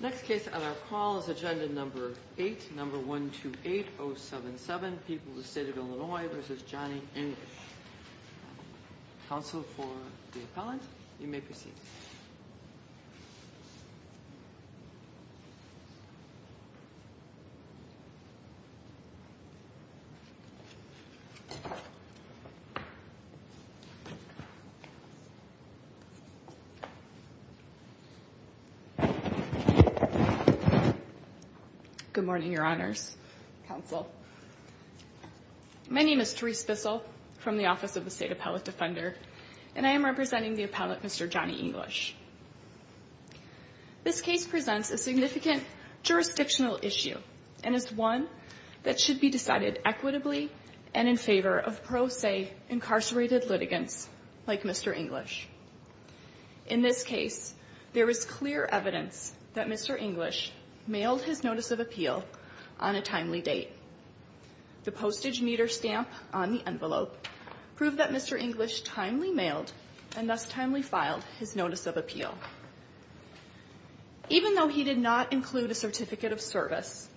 Next case on our call is agenda number 8 number 128 077 people the state of Illinois versus Johnny English. Counsel for the appellant you may proceed. Good morning your honors. My name is Therese Fissel from the office of the state appellate defender and I am representing the appellant Mr. Johnny English. This case presents a significant jurisdictional issue and is one that should be decided equitably and in favor of pro se incarcerated litigants like Mr. English. In this case there is clear evidence that Mr. English mailed his notice of appeal on a timely date. The postage meter stamp on the envelope proved that Mr. English timely mailed and thus timely filed his notice of appeal. Even though he did not include a certificate of service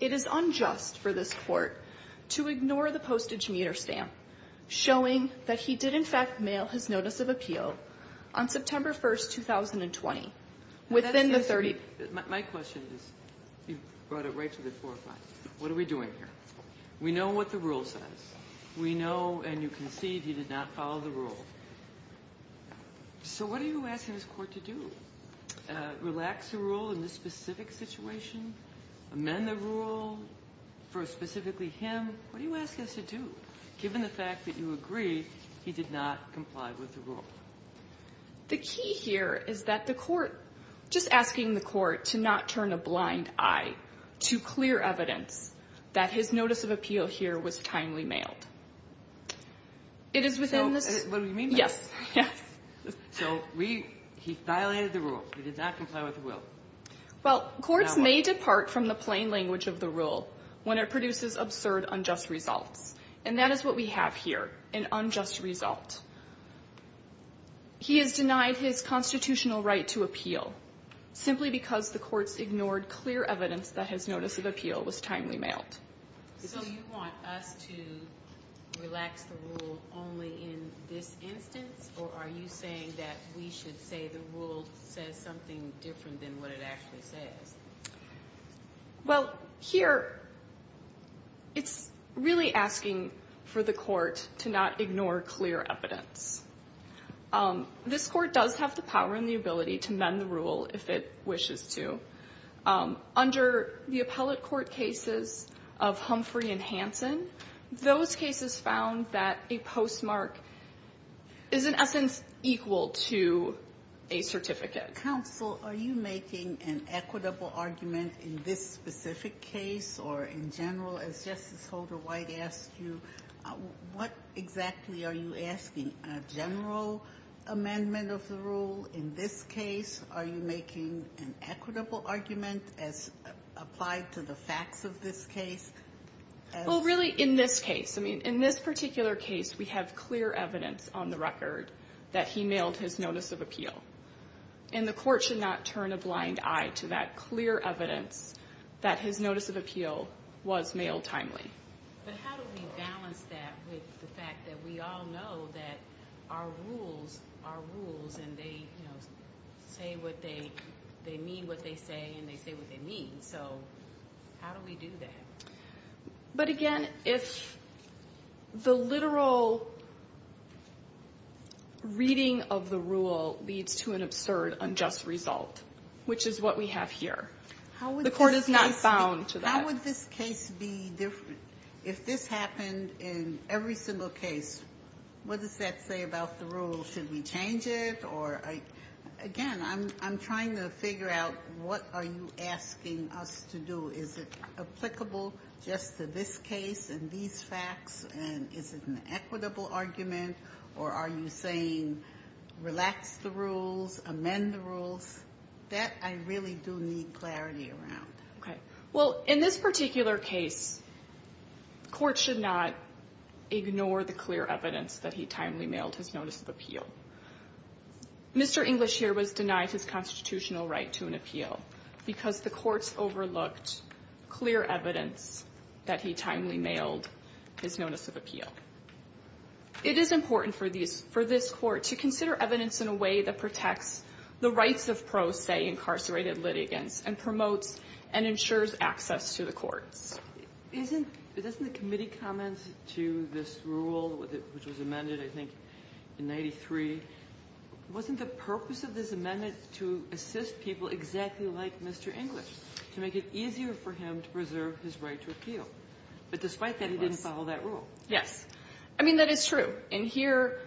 it is unjust for this court to show that he did in fact mail his notice of appeal on September 1st, 2020 within the 30. My question is you brought it right to the forefront. What are we doing here? We know what the rule says. We know and you concede he did not follow the rule. So what are you asking this court to do? Relax the rule in this specific situation? Amend the rule for specifically him? What do you ask us to do given the fact that you agree he did not comply with the rule? The key here is that the court, just asking the court to not turn a blind eye to clear evidence that his notice of appeal here was timely mailed. It is within the sort of What do you mean by that? Yes, yes. So we, he violated the rule. He did not comply with the rule. Well, courts may depart from the plain language of the rule when it produces absurd unjust results. And that is what we have here, an unjust result. He has denied his constitutional right to appeal simply because the courts ignored clear evidence that his notice of appeal was timely mailed. So you want us to relax the rule only in this instance? Or are you saying that we should say the rule says something different than what it actually says? Well, here, it's really asking for the court to not ignore clear evidence. This court does have the power and the ability to amend the rule if it wishes to. Under the appellate court cases of Humphrey and Hanson, those cases found that a postmark is in a certificate. Counsel, are you making an equitable argument in this specific case? Or in general, as Justice Holder White asked you, what exactly are you asking? A general amendment of the rule in this case? Are you making an equitable argument as applied to the facts of this case? Well, really, in this case. I mean, in this particular case, we have clear evidence on the record that he mailed his notice of appeal. And the court should not turn a blind eye to that clear evidence that his notice of appeal was mailed timely. But how do we balance that with the fact that we all know that our rules are rules and they say what they mean, what they say, and they say what they mean. So how do we do that? But again, if the literal reading of the rule leads to an absurd, unjust result, which is what we have here, the court is not bound to that. How would this case be different? If this happened in every single case, what does that say about the rule? Should we change it? Again, I'm trying to figure out what are you asking us to do? Is it applicable just to this case and these facts? And is it an equitable argument? Or are you saying, relax the rules, amend the rules? That I really do need clarity around. Okay. Well, in this particular case, court should not ignore the clear evidence that he timely mailed his notice of appeal. Mr. English here was denied his constitutional right to an appeal because the courts overlooked clear evidence that he timely mailed his notice of appeal. It is important for this court to consider evidence in a way that protects the rights of pro se incarcerated litigants and promotes and ensures access to the courts. Isn't the committee comments to this rule, which was amended, I think, in 93, wasn't the purpose of this amendment to assist people exactly like Mr. English, to make it easier for him to preserve his right to appeal? But despite that, he didn't follow that rule. Yes. I mean, that is true. And here,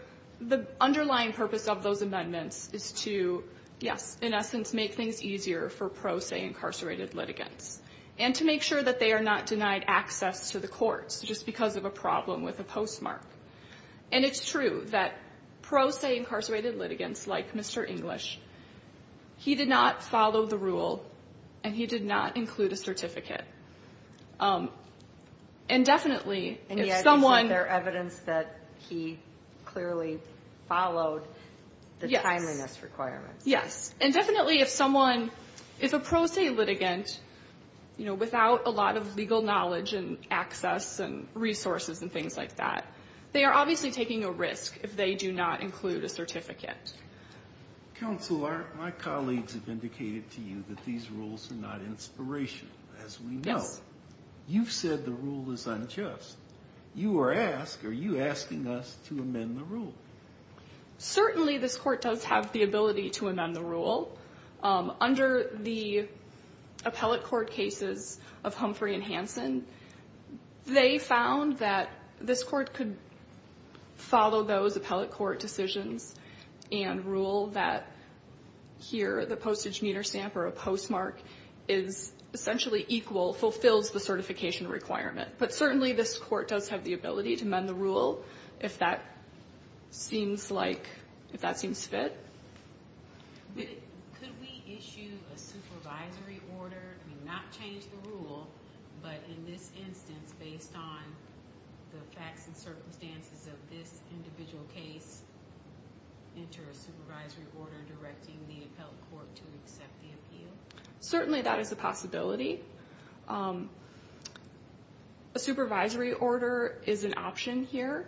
the underlying purpose of those amendments is to, yes, in essence, make things easier for pro se incarcerated litigants, and to make sure that they are not denied access to the courts just because of a problem with a postmark. And it's true that pro se incarcerated litigants like Mr. English, he did not follow the rule, and he did not include a certificate. And definitely, if someone --- And yet, isn't there evidence that he clearly followed the timeliness requirements? Yes. And definitely, if someone is a pro se litigant, you know, without a lot of legal knowledge and access and resources and things like that, they are obviously taking a risk if they do not include a certificate. Counselor, my colleagues have indicated to you that these rules are not inspirational. As we know, you've said the rule is unjust. You were asked, are you asking us to amend the rule? Certainly, this Court does have the ability to amend the rule. Under the appellate court cases of Humphrey and Hansen, they found that this Court could follow those appellate court decisions and rule that here, the postage meter stamp or a postmark is essentially equal, fulfills the certification requirement. But certainly, this Court does have the ability to amend the rule if that seems like, if that seems fit. Could we issue a supervisory order, I mean, not change the rule, but in this instance, based on the facts and circumstances of this individual case, enter a supervisory order directing the appellate court to accept the appeal? Certainly, that is a possibility. A supervisory order is an option here.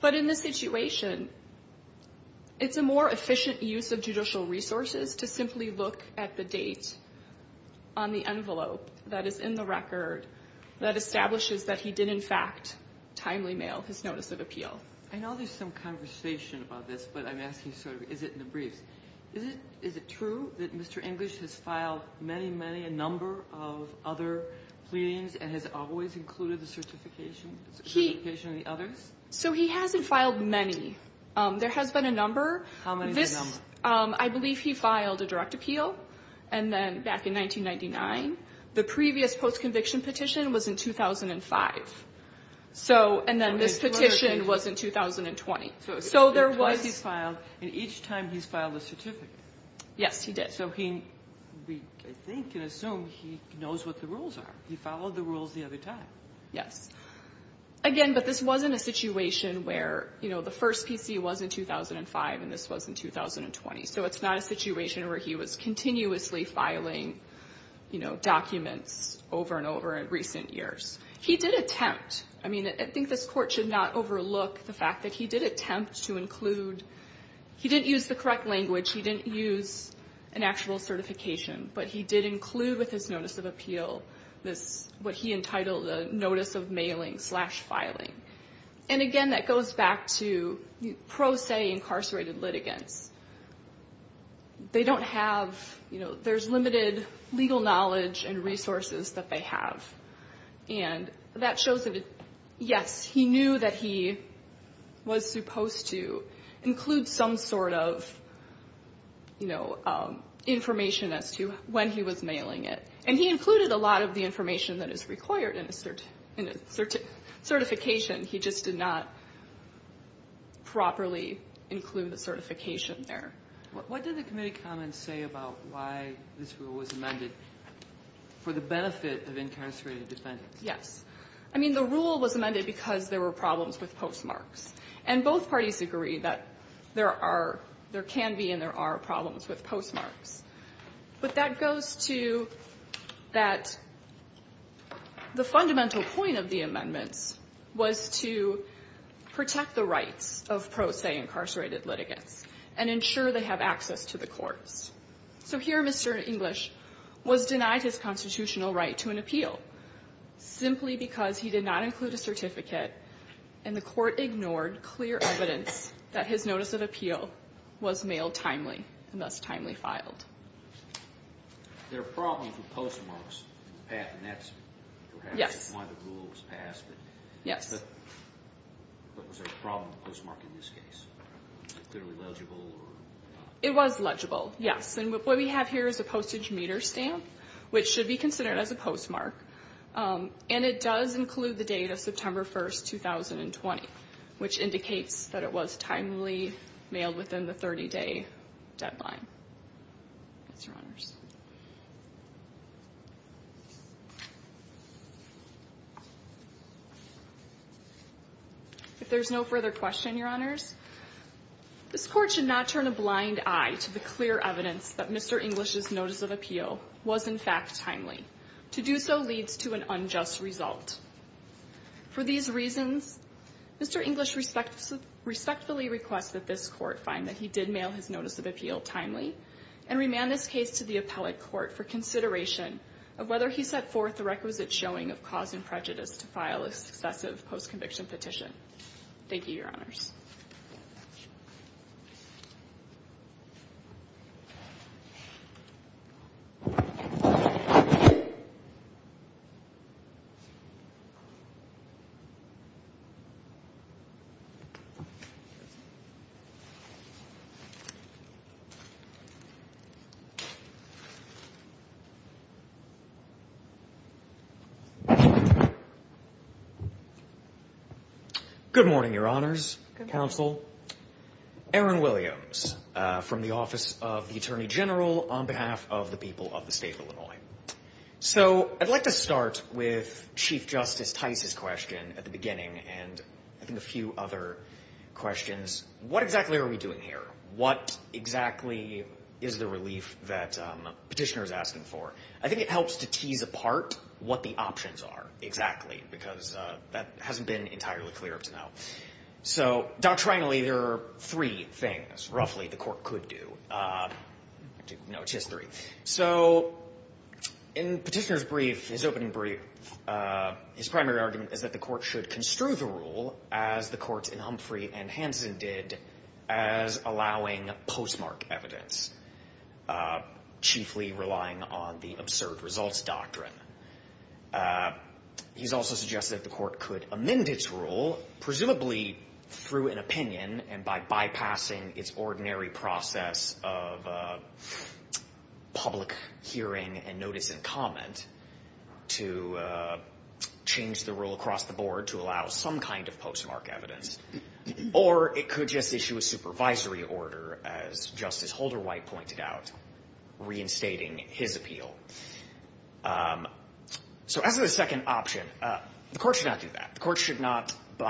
But in this situation, it's a more efficient use of judicial resources to simply look at the date on the envelope that is in the record that establishes that he did, in fact, timely mail his notice of appeal. I know there's some conversation about this, but I'm asking sort of, is it in the briefs? Is it true that Mr. English has filed many, many, a number of other pleadings and has always included the certification in the others? So he hasn't filed many. There has been a number. How many is a number? I believe he filed a direct appeal, and then back in 1999. The previous postconviction petition was in 2005. So, and then this petition was in 2020. So it's been twice he's filed, and each time he's filed a certificate. Yes, he did. So he, we think and assume he knows what the rules are. He followed the rules the other time. Yes. Again, but this wasn't a situation where, you know, the first PC was in 2005, and this was in 2020. So it's not a situation where he was continuously filing, you know, documents over and over in recent years. He did attempt, I mean, I think this court should not overlook the fact that he did attempt to include, he didn't use the correct language, he didn't use an actual certification, but he did include with his notice of appeal this, what he entitled the notice of mailing slash filing. And again, that goes back to pro se incarcerated litigants. They don't have, you know, there's limited legal knowledge and resources that they have. And that shows that, yes, he knew that he was supposed to include some sort of, you know, information as to when he was mailing it. And he included a lot of the information that is required in a certification. He just did not properly include the certification there. What did the committee comments say about why this rule was amended for the benefit of incarcerated defendants? Yes. I mean, the rule was amended because there were problems with postmarks. And both parties agree that there are, there can be and there are problems with postmarks. But that goes to that the fundamental point of the amendments was to protect the rights of pro se incarcerated litigants and ensure they have access to the courts. So here Mr. English was denied his constitutional right to an appeal simply because he did not include a certificate. And the court ignored clear evidence that his notice of appeal was mailed timely and thus timely filed. There are problems with postmarks and that's perhaps one of the rules passed. Yes. But was there a problem with postmark in this case? Was it clearly legible? It was legible, yes. And what we have here is a postage meter stamp, which should be considered as a postmark. And it does include the date of September 1, 2020, which indicates that it was timely mailed within the 30-day deadline. Yes, Your Honors. If there's no further question, Your Honors, this court should not turn a blind eye to the clear evidence that Mr. English's notice of appeal was in fact timely. To do so leads to an unjust result. For these reasons, Mr. English respectfully requests that this court find that he did mail his notice of appeal timely and remand this case to the appellate court for consideration of whether he set forth the requisite showing of cause and prejudice to file a successive postconviction petition. Thank you, Your Honors. Good morning, Your Honors. Good morning. Good morning, Your Honors. So I'd like to start with Chief Justice Tice's question at the beginning, and I think a few other questions. What exactly are we doing here? What exactly is the relief that Petitioner is asking for? I think it helps to tease apart what the options are exactly, because that hasn't been entirely clear up to now. So doctrinally, there are three things, roughly, the court could do. No, it's just three. So in Petitioner's brief, his opening brief, his primary argument is that the court should construe the rule, as the courts in Humphrey and Hansen did, as allowing postmark evidence, chiefly relying on the absurd results doctrine. He's also suggested that the court could amend its rule, presumably through an opinion and by bypassing its ordinary process of public hearing and notice and comment, to change the rule across the board to allow some kind of postmark evidence. Or it could just issue a supervisory order, as Justice Holderwhite pointed out, reinstating his appeal. So as a second option, the court should not do that. The court could use the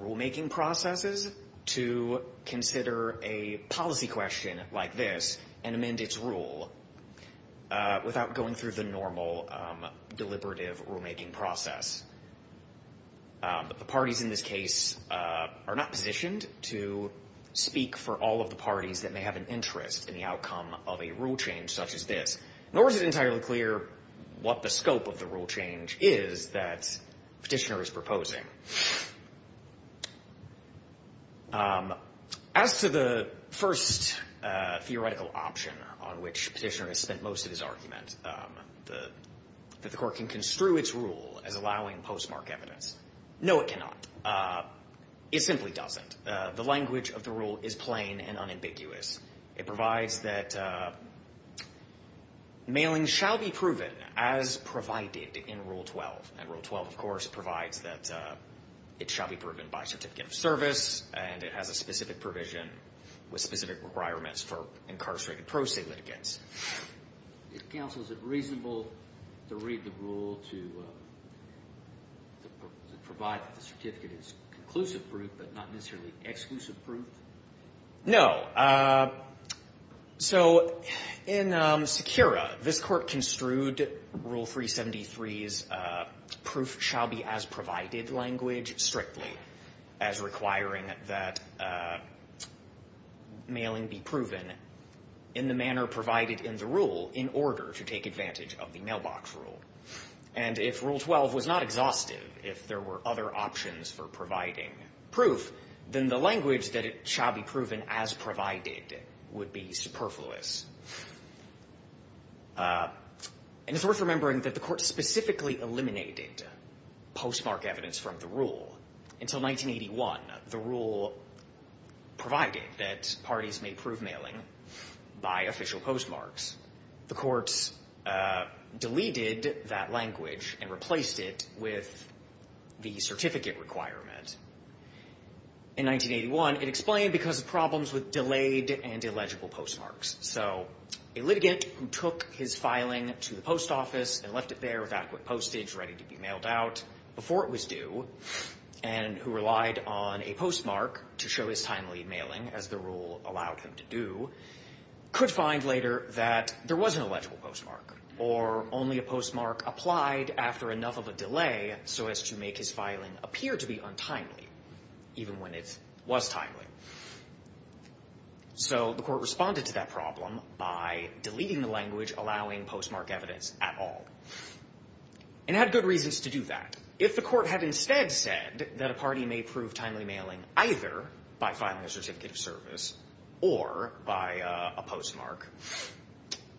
rulemaking processes to consider a policy question like this and amend its rule without going through the normal deliberative rulemaking process. But the parties in this case are not positioned to speak for all of the parties that may have an interest in the outcome of a rule change such as this, nor is it entirely clear what the scope of the rule change is that Petitioner is proposing. As to the first theoretical option on which Petitioner has spent most of his argument, that the court can construe its rule as allowing postmark evidence. No, it cannot. It simply doesn't. The language of the rule is plain and unambiguous. It provides that mailing shall be proven as provided in Rule 12. And Rule 12, of course, provides that it shall be proven by certificate of service and it has a specific provision with specific requirements for incarcerated pro se litigants. Counsel, is it reasonable to read the rule to provide that the certificate is conclusive proof but not necessarily exclusive proof? No. So in Secura, this Court construed Rule 373's proof shall be as provided language strictly as requiring that mailing be proven in the manner provided in the rule in order to take advantage of the mailbox rule. And if Rule 12 was not exhaustive, if there were other options for providing proof, then the language that it shall be proven as provided would be superfluous. And it's worth remembering that the Court specifically eliminated postmark evidence from the rule. Until 1981, the rule provided that parties may prove mailing by official postmarks. The Court deleted that language and replaced it with the certificate requirement. In 1981, it explained because of problems with delayed and illegible postmarks. So a litigant who took his filing to the post office and left it there with adequate postage ready to be mailed out before it was due and who relied on a postmark to show his timely mailing as the rule allowed him to do, could find later that there was an illegible postmark or only a postmark applied after enough of a delay so as to make his filing appear to be untimely even when it was timely. So the Court responded to that problem by deleting the language allowing postmark evidence at all. And it had good reasons to do that. If the Court had instead said that a party may prove timely mailing either by filing a certificate of service or by a postmark,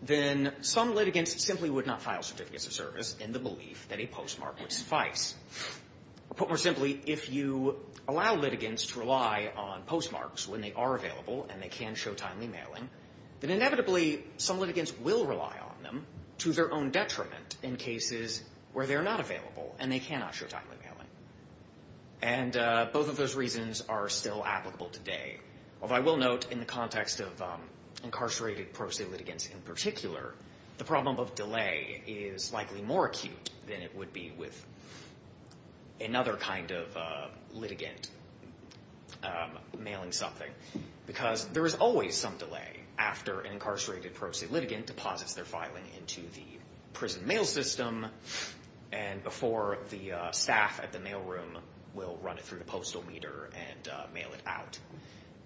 then some litigants simply would not file certificates of service in the belief that a postmark would suffice. Put more simply, if you allow litigants to rely on postmarks when they are available and they can show timely mailing, then inevitably some litigants will rely on them to their own detriment in cases where they're not available and they cannot show timely mailing. And both of those reasons are still applicable today. Although I will note in the context of incarcerated pro se litigants in particular, the problem of delay is likely more acute than it would be with another kind of litigant mailing something because there is always some delay after an incarcerated pro se litigant deposits their filing into the prison mail system and before the staff at the mailroom will run it through the postal meter and mail it out.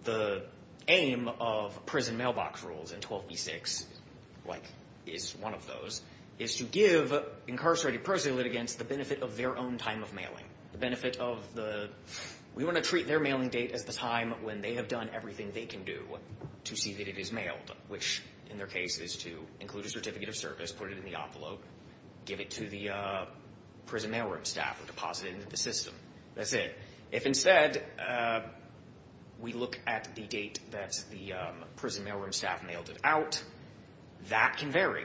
The aim of prison mailbox rules in 12b-6, like is one of those, is to give incarcerated pro se litigants the benefit of their own time of mailing. We want to treat their mailing date as the time when they have done everything they can do to see that it is mailed, which in their case is to include a certificate of service, put it in the envelope, give it to the prison mailroom staff, or deposit it into the system. That's it. If instead we look at the date that the prison mailroom staff mailed it out, that can vary.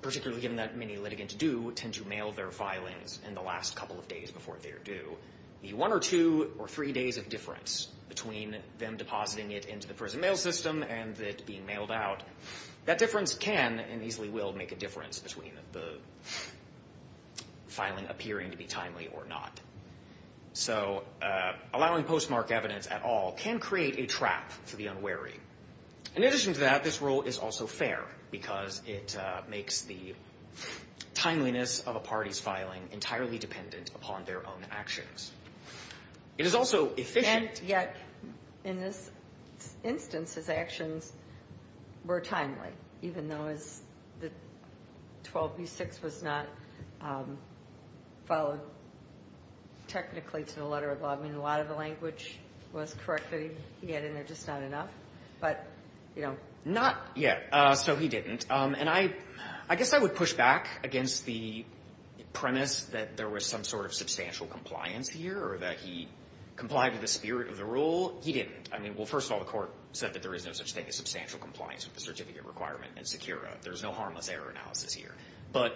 Particularly given that many litigants do tend to mail their filings in the last couple of days before they are due, the one or two or three days of difference between them depositing it into the prison mail system and it being mailed out, that difference can and easily will make a difference between the filing appearing to be timely or not. Allowing postmark evidence at all can create a trap for the unwary. In addition to that, this rule is also fair, because it makes the timeliness of a party's filing entirely dependent upon their own actions. It is also efficient... And yet, in this instance, his actions were timely, even though 12b-6 was not followed technically to the letter of law. I mean, a lot of the language was correct, but he had in there just not enough. But, you know... Not yet. So he didn't. And I guess I would push back against the premise that there was some sort of substantial compliance here or that he complied with the spirit of the rule. He didn't. I mean, well, first of all, the Court said that there is no such thing as substantial compliance with the certificate requirement in SECURA. There's no harmless error analysis here. But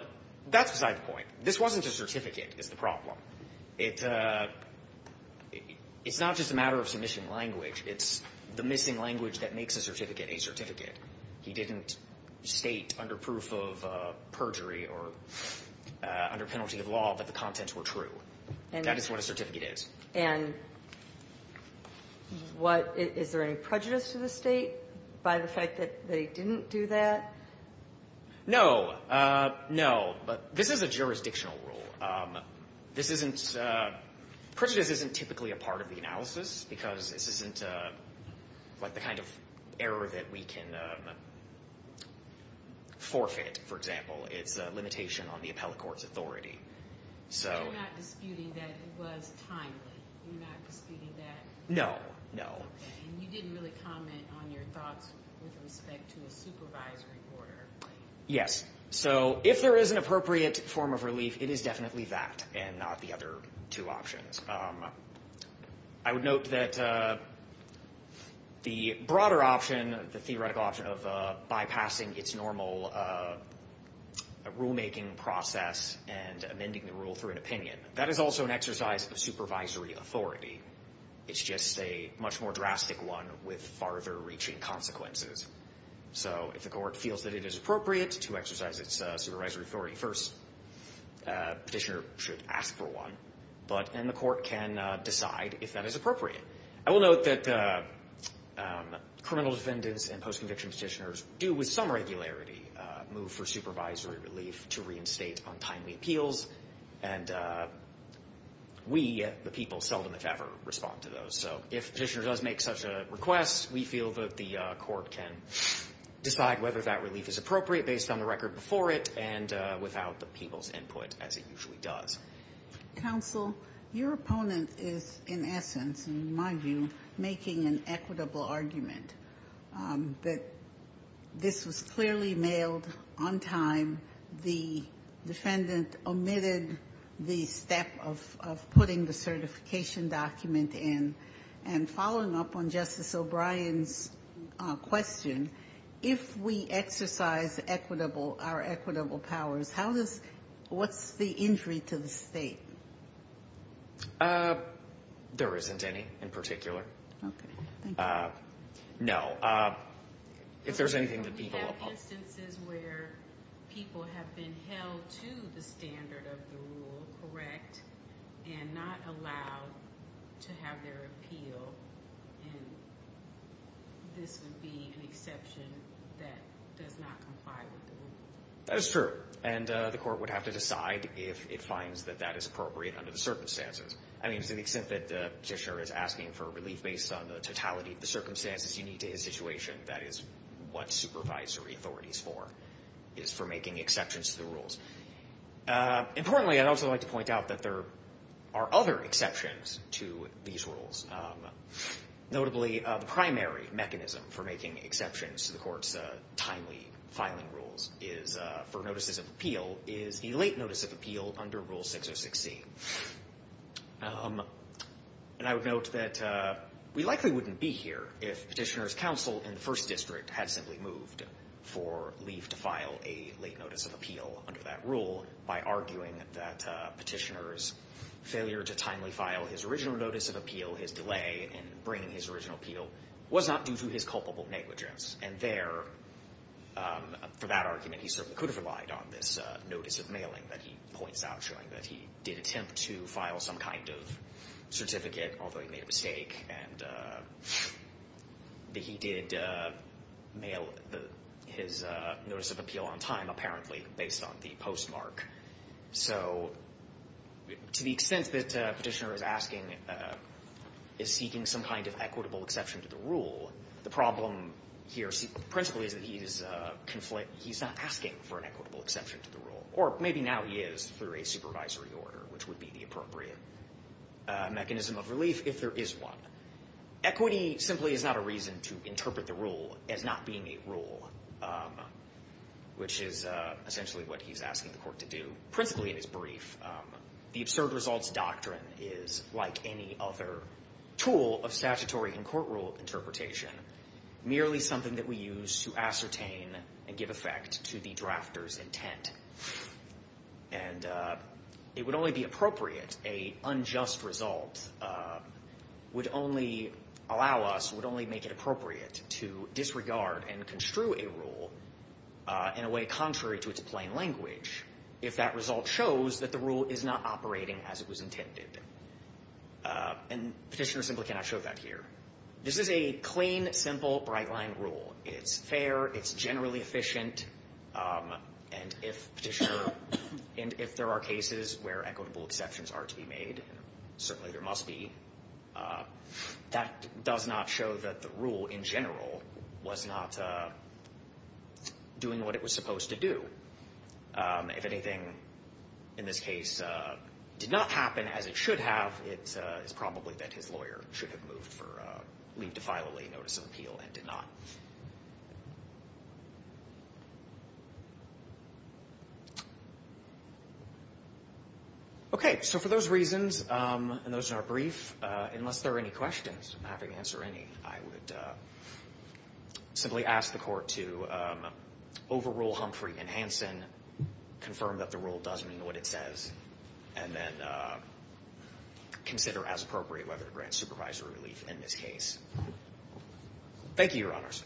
that's beside the point. This wasn't a certificate is the problem. It's not just a matter of submission language. It's the missing language that makes a certificate a certificate. He didn't state under proof of perjury or under penalty of law that the contents were true. That is what a certificate is. And what — is there any prejudice to the State by the fact that they didn't do that? No. No. This is a jurisdictional rule. This isn't — prejudice isn't typically a part of the analysis, because this isn't like the kind of error that we can forfeit, for example. It's a limitation on the appellate court's authority. So — You're not disputing that it was timely? You're not disputing that? No. No. Okay. And you didn't really comment on your thoughts with respect to a supervisory order? Yes. So if there is an appropriate form of relief, it is definitely that and not the other two options. I would note that the broader option, the theoretical option of bypassing its normal rulemaking process and amending the rule through an opinion, that is also an exercise of supervisory authority. It's just a much more drastic one with farther-reaching consequences. So if the court feels that it is appropriate to exercise its supervisory authority first, a petitioner should ask for one. And the court can decide if that is appropriate. I will note that criminal defendants and post-conviction petitioners do, with some regularity, move for supervisory relief to reinstate on timely appeals. And we, the people, seldom, if ever, respond to those. So if a petitioner does make such a request, we feel that the court can decide whether that relief is appropriate based on the record before it and without the people's input, as it usually does. Ginsburg. Counsel, your opponent is, in essence, in my view, making an equitable argument that this was clearly mailed on time. The defendant omitted the step of putting the certification document in. And following up on Justice O'Brien's question, if we exercise equitable, our equitable powers, what's the injury to the state? There isn't any in particular. Okay. Thank you. No. If there's anything that people will call. We have instances where people have been held to the standard of the rule, correct, and not allowed to have their appeal. And this would be an exception that does not comply with the rule. That is true. And the court would have to decide if it finds that that is appropriate under the circumstances. I mean, to the extent that the petitioner is asking for relief based on the totality of the circumstances unique to his situation, that is what supervisory authority is for, is for making exceptions to the rules. Importantly, I'd also like to point out that there are other exceptions to these rules. Notably, the primary mechanism for making exceptions to the court's timely filing rules is, for notices of appeal, is the late notice of appeal under Rule 606C. And I would note that we likely wouldn't be here if petitioner's counsel in the first district had simply moved for leave to file a late notice of appeal under that rule by arguing that petitioner's timely file, his original notice of appeal, his delay in bringing his original appeal, was not due to his culpable negligence. And there, for that argument, he certainly could have relied on this notice of mailing that he points out, showing that he did attempt to file some kind of certificate, although he made a mistake, and that he did mail his notice of appeal on time, apparently, based on the postmark. So to the extent that petitioner is asking, is seeking some kind of equitable exception to the rule, the problem here principally is that he's not asking for an equitable exception to the rule, or maybe now he is through a supervisory order, which would be the appropriate mechanism of relief if there is one. Equity simply is not a reason to interpret the rule as not being a rule, which is essentially what he's asking the court to do, principally in his brief. The absurd results doctrine is, like any other tool of statutory and court rule interpretation, merely something that we use to ascertain and give effect to the drafter's intent. And it would only be appropriate, an unjust result would only allow us, it would only make it appropriate to disregard and construe a rule in a way contrary to its plain language if that result shows that the rule is not operating as it was intended. And petitioner simply cannot show that here. This is a clean, simple, bright-line rule. It's fair, it's generally efficient, and if there are cases where equitable exceptions are to be made, certainly there must be, that does not show that the rule in general was not doing what it was supposed to do. If anything in this case did not happen as it should have, it's probably that his lawyer should have moved for leave to file a late notice of appeal and did not. Okay. So for those reasons, and those in our brief, unless there are any questions, I'm happy to answer any. I would simply ask the court to overrule Humphrey and Hansen, confirm that the rule doesn't mean what it says, and then consider as appropriate whether to grant supervisory relief in this case. Thank you, Your Honors.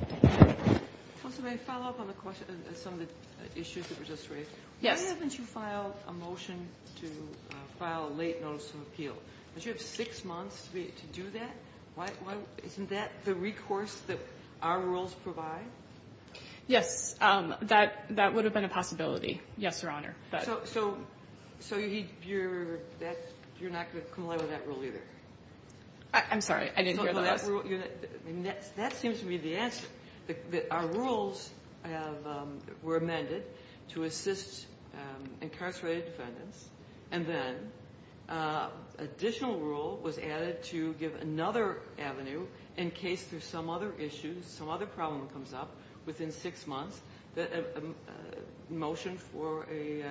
Thank you. Also, may I follow up on some of the issues that were just raised? Yes. Why haven't you filed a motion to file a late notice of appeal? Don't you have six months to do that? Isn't that the recourse that our rules provide? Yes. That would have been a possibility, yes, Your Honor. So you're not going to comply with that rule either? I'm sorry. I didn't hear the last part. That seems to be the answer, that our rules were amended to assist incarcerated defendants, and then additional rule was added to give another avenue in case there's some other issue, some other problem comes up within six months, that a motion for a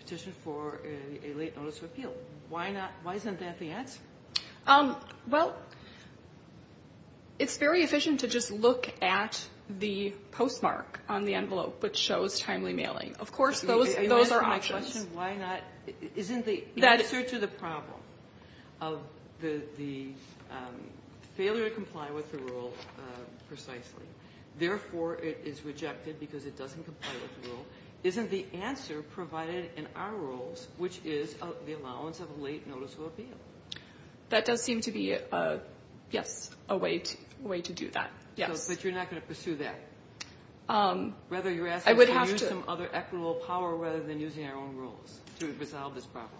petition for a late notice of appeal. Why not? Why isn't that the answer? Well, it's very efficient to just look at the postmark on the envelope, which shows timely mailing. Of course, those are options. Why not? Isn't the answer to the problem of the failure to comply with the rule precisely, therefore it is rejected because it doesn't comply with the rule, isn't the answer provided in our rules, which is the allowance of a late notice of appeal? That does seem to be, yes, a way to do that, yes. But you're not going to pursue that? I would have to. rather than using our own rules to resolve this problem.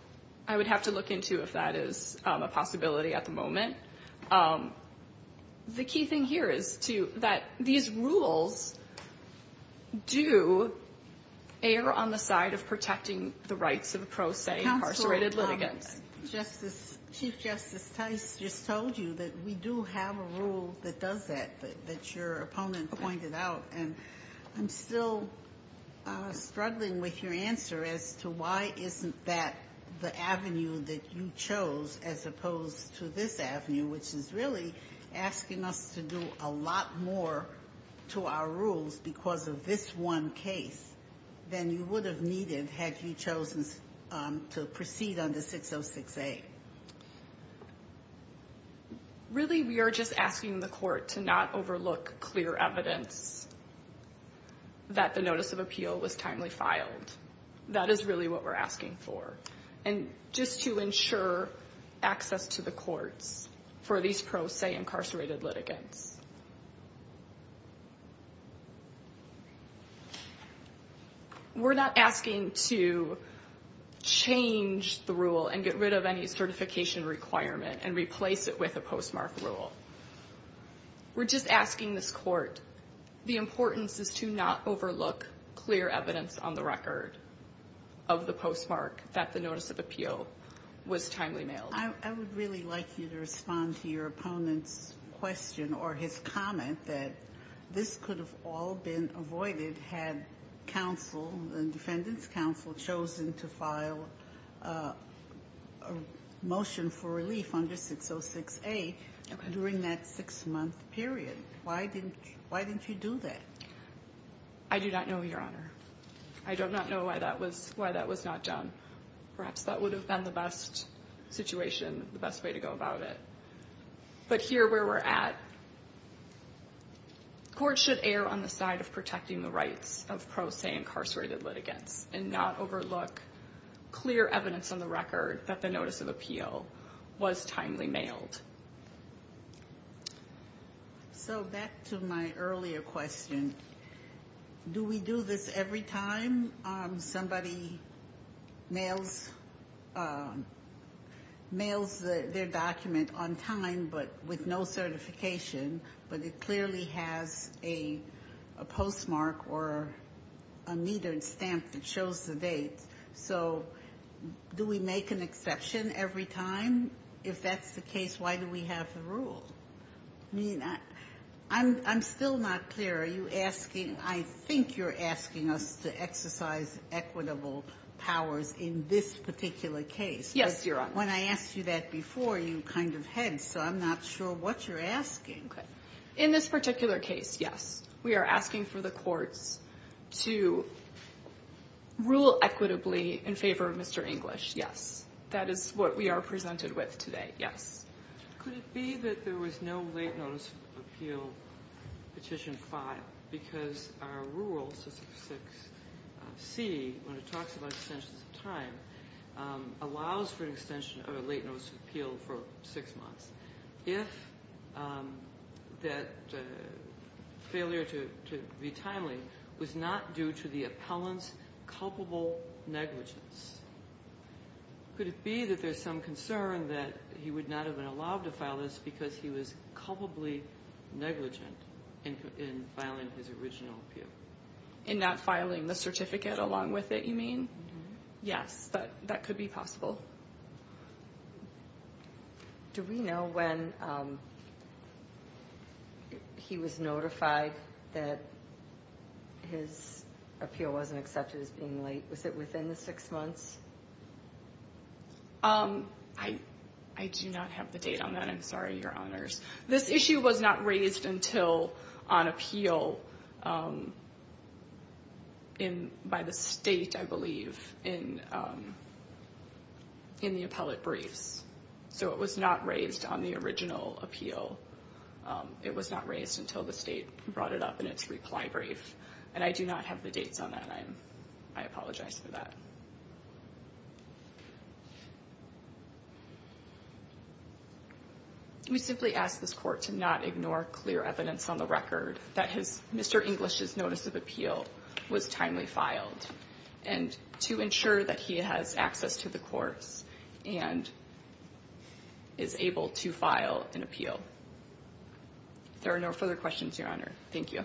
I would have to look into if that is a possibility at the moment. The key thing here is that these rules do err on the side of protecting the rights of pro se incarcerated litigants. Chief Justice Tice just told you that we do have a rule that does that, that your opponent pointed out. And I'm still struggling with your answer as to why isn't that the avenue that you chose as opposed to this avenue, which is really asking us to do a lot more to our rules because of this one case than you would have needed had you chosen to proceed under 606A. Really, we are just asking the court to not overlook clear evidence that the notice of appeal was timely filed. That is really what we're asking for. And just to ensure access to the courts for these pro se incarcerated litigants. We're not asking to change the rule and get rid of any certification requirement and replace it with a postmark rule. We're just asking this court, the importance is to not overlook clear evidence on the record of the postmark that the notice of appeal was timely mailed. I would really like you to respond to your opponent's question or his comment that this could have all been avoided had counsel, the defendant's counsel, chosen to file a motion for relief under 606A during that six month period. Why didn't you do that? I do not know, Your Honor. I do not know why that was not done. Perhaps that would have been the best situation, the best way to go about it. But here where we're at, courts should err on the side of protecting the rights of pro se incarcerated litigants and not overlook clear evidence on the record that the notice of appeal was timely mailed. So back to my earlier question. Do we do this every time somebody mails their document on time but with no certification but it clearly has a postmark or a metered stamp that shows the date? So do we make an exception every time? If that's the case, why do we have the rule? I mean, I'm still not clear. Are you asking, I think you're asking us to exercise equitable powers in this particular case. Yes, Your Honor. When I asked you that before, you kind of hedged, so I'm not sure what you're asking. In this particular case, yes. We are asking for the courts to rule equitably in favor of Mr. English, yes. That is what we are presented with today, yes. Could it be that there was no late notice of appeal petition 5 because our rule 66C, when it talks about extensions of time, allows for an extension of a late notice of appeal for six months if that failure to be timely was not due to the appellant's culpable negligence? Could it be that there's some concern that he would not have been allowed to file this because he was culpably negligent in filing his original appeal? In not filing the certificate along with it, you mean? Yes, but that could be possible. Do we know when he was notified that his appeal wasn't accepted as being late? Was it within the six months? I do not have the date on that. I'm sorry, Your Honors. This issue was not raised until on appeal by the state, I believe, in the appellate briefs. So it was not raised on the original appeal. It was not raised until the state brought it up in its reply brief. And I do not have the dates on that. I apologize for that. We simply ask this Court to not ignore clear evidence on the record that Mr. English's notice of appeal was timely filed and to ensure that he has access to the courts and is able to file an appeal. There are no further questions, Your Honor. Thank you.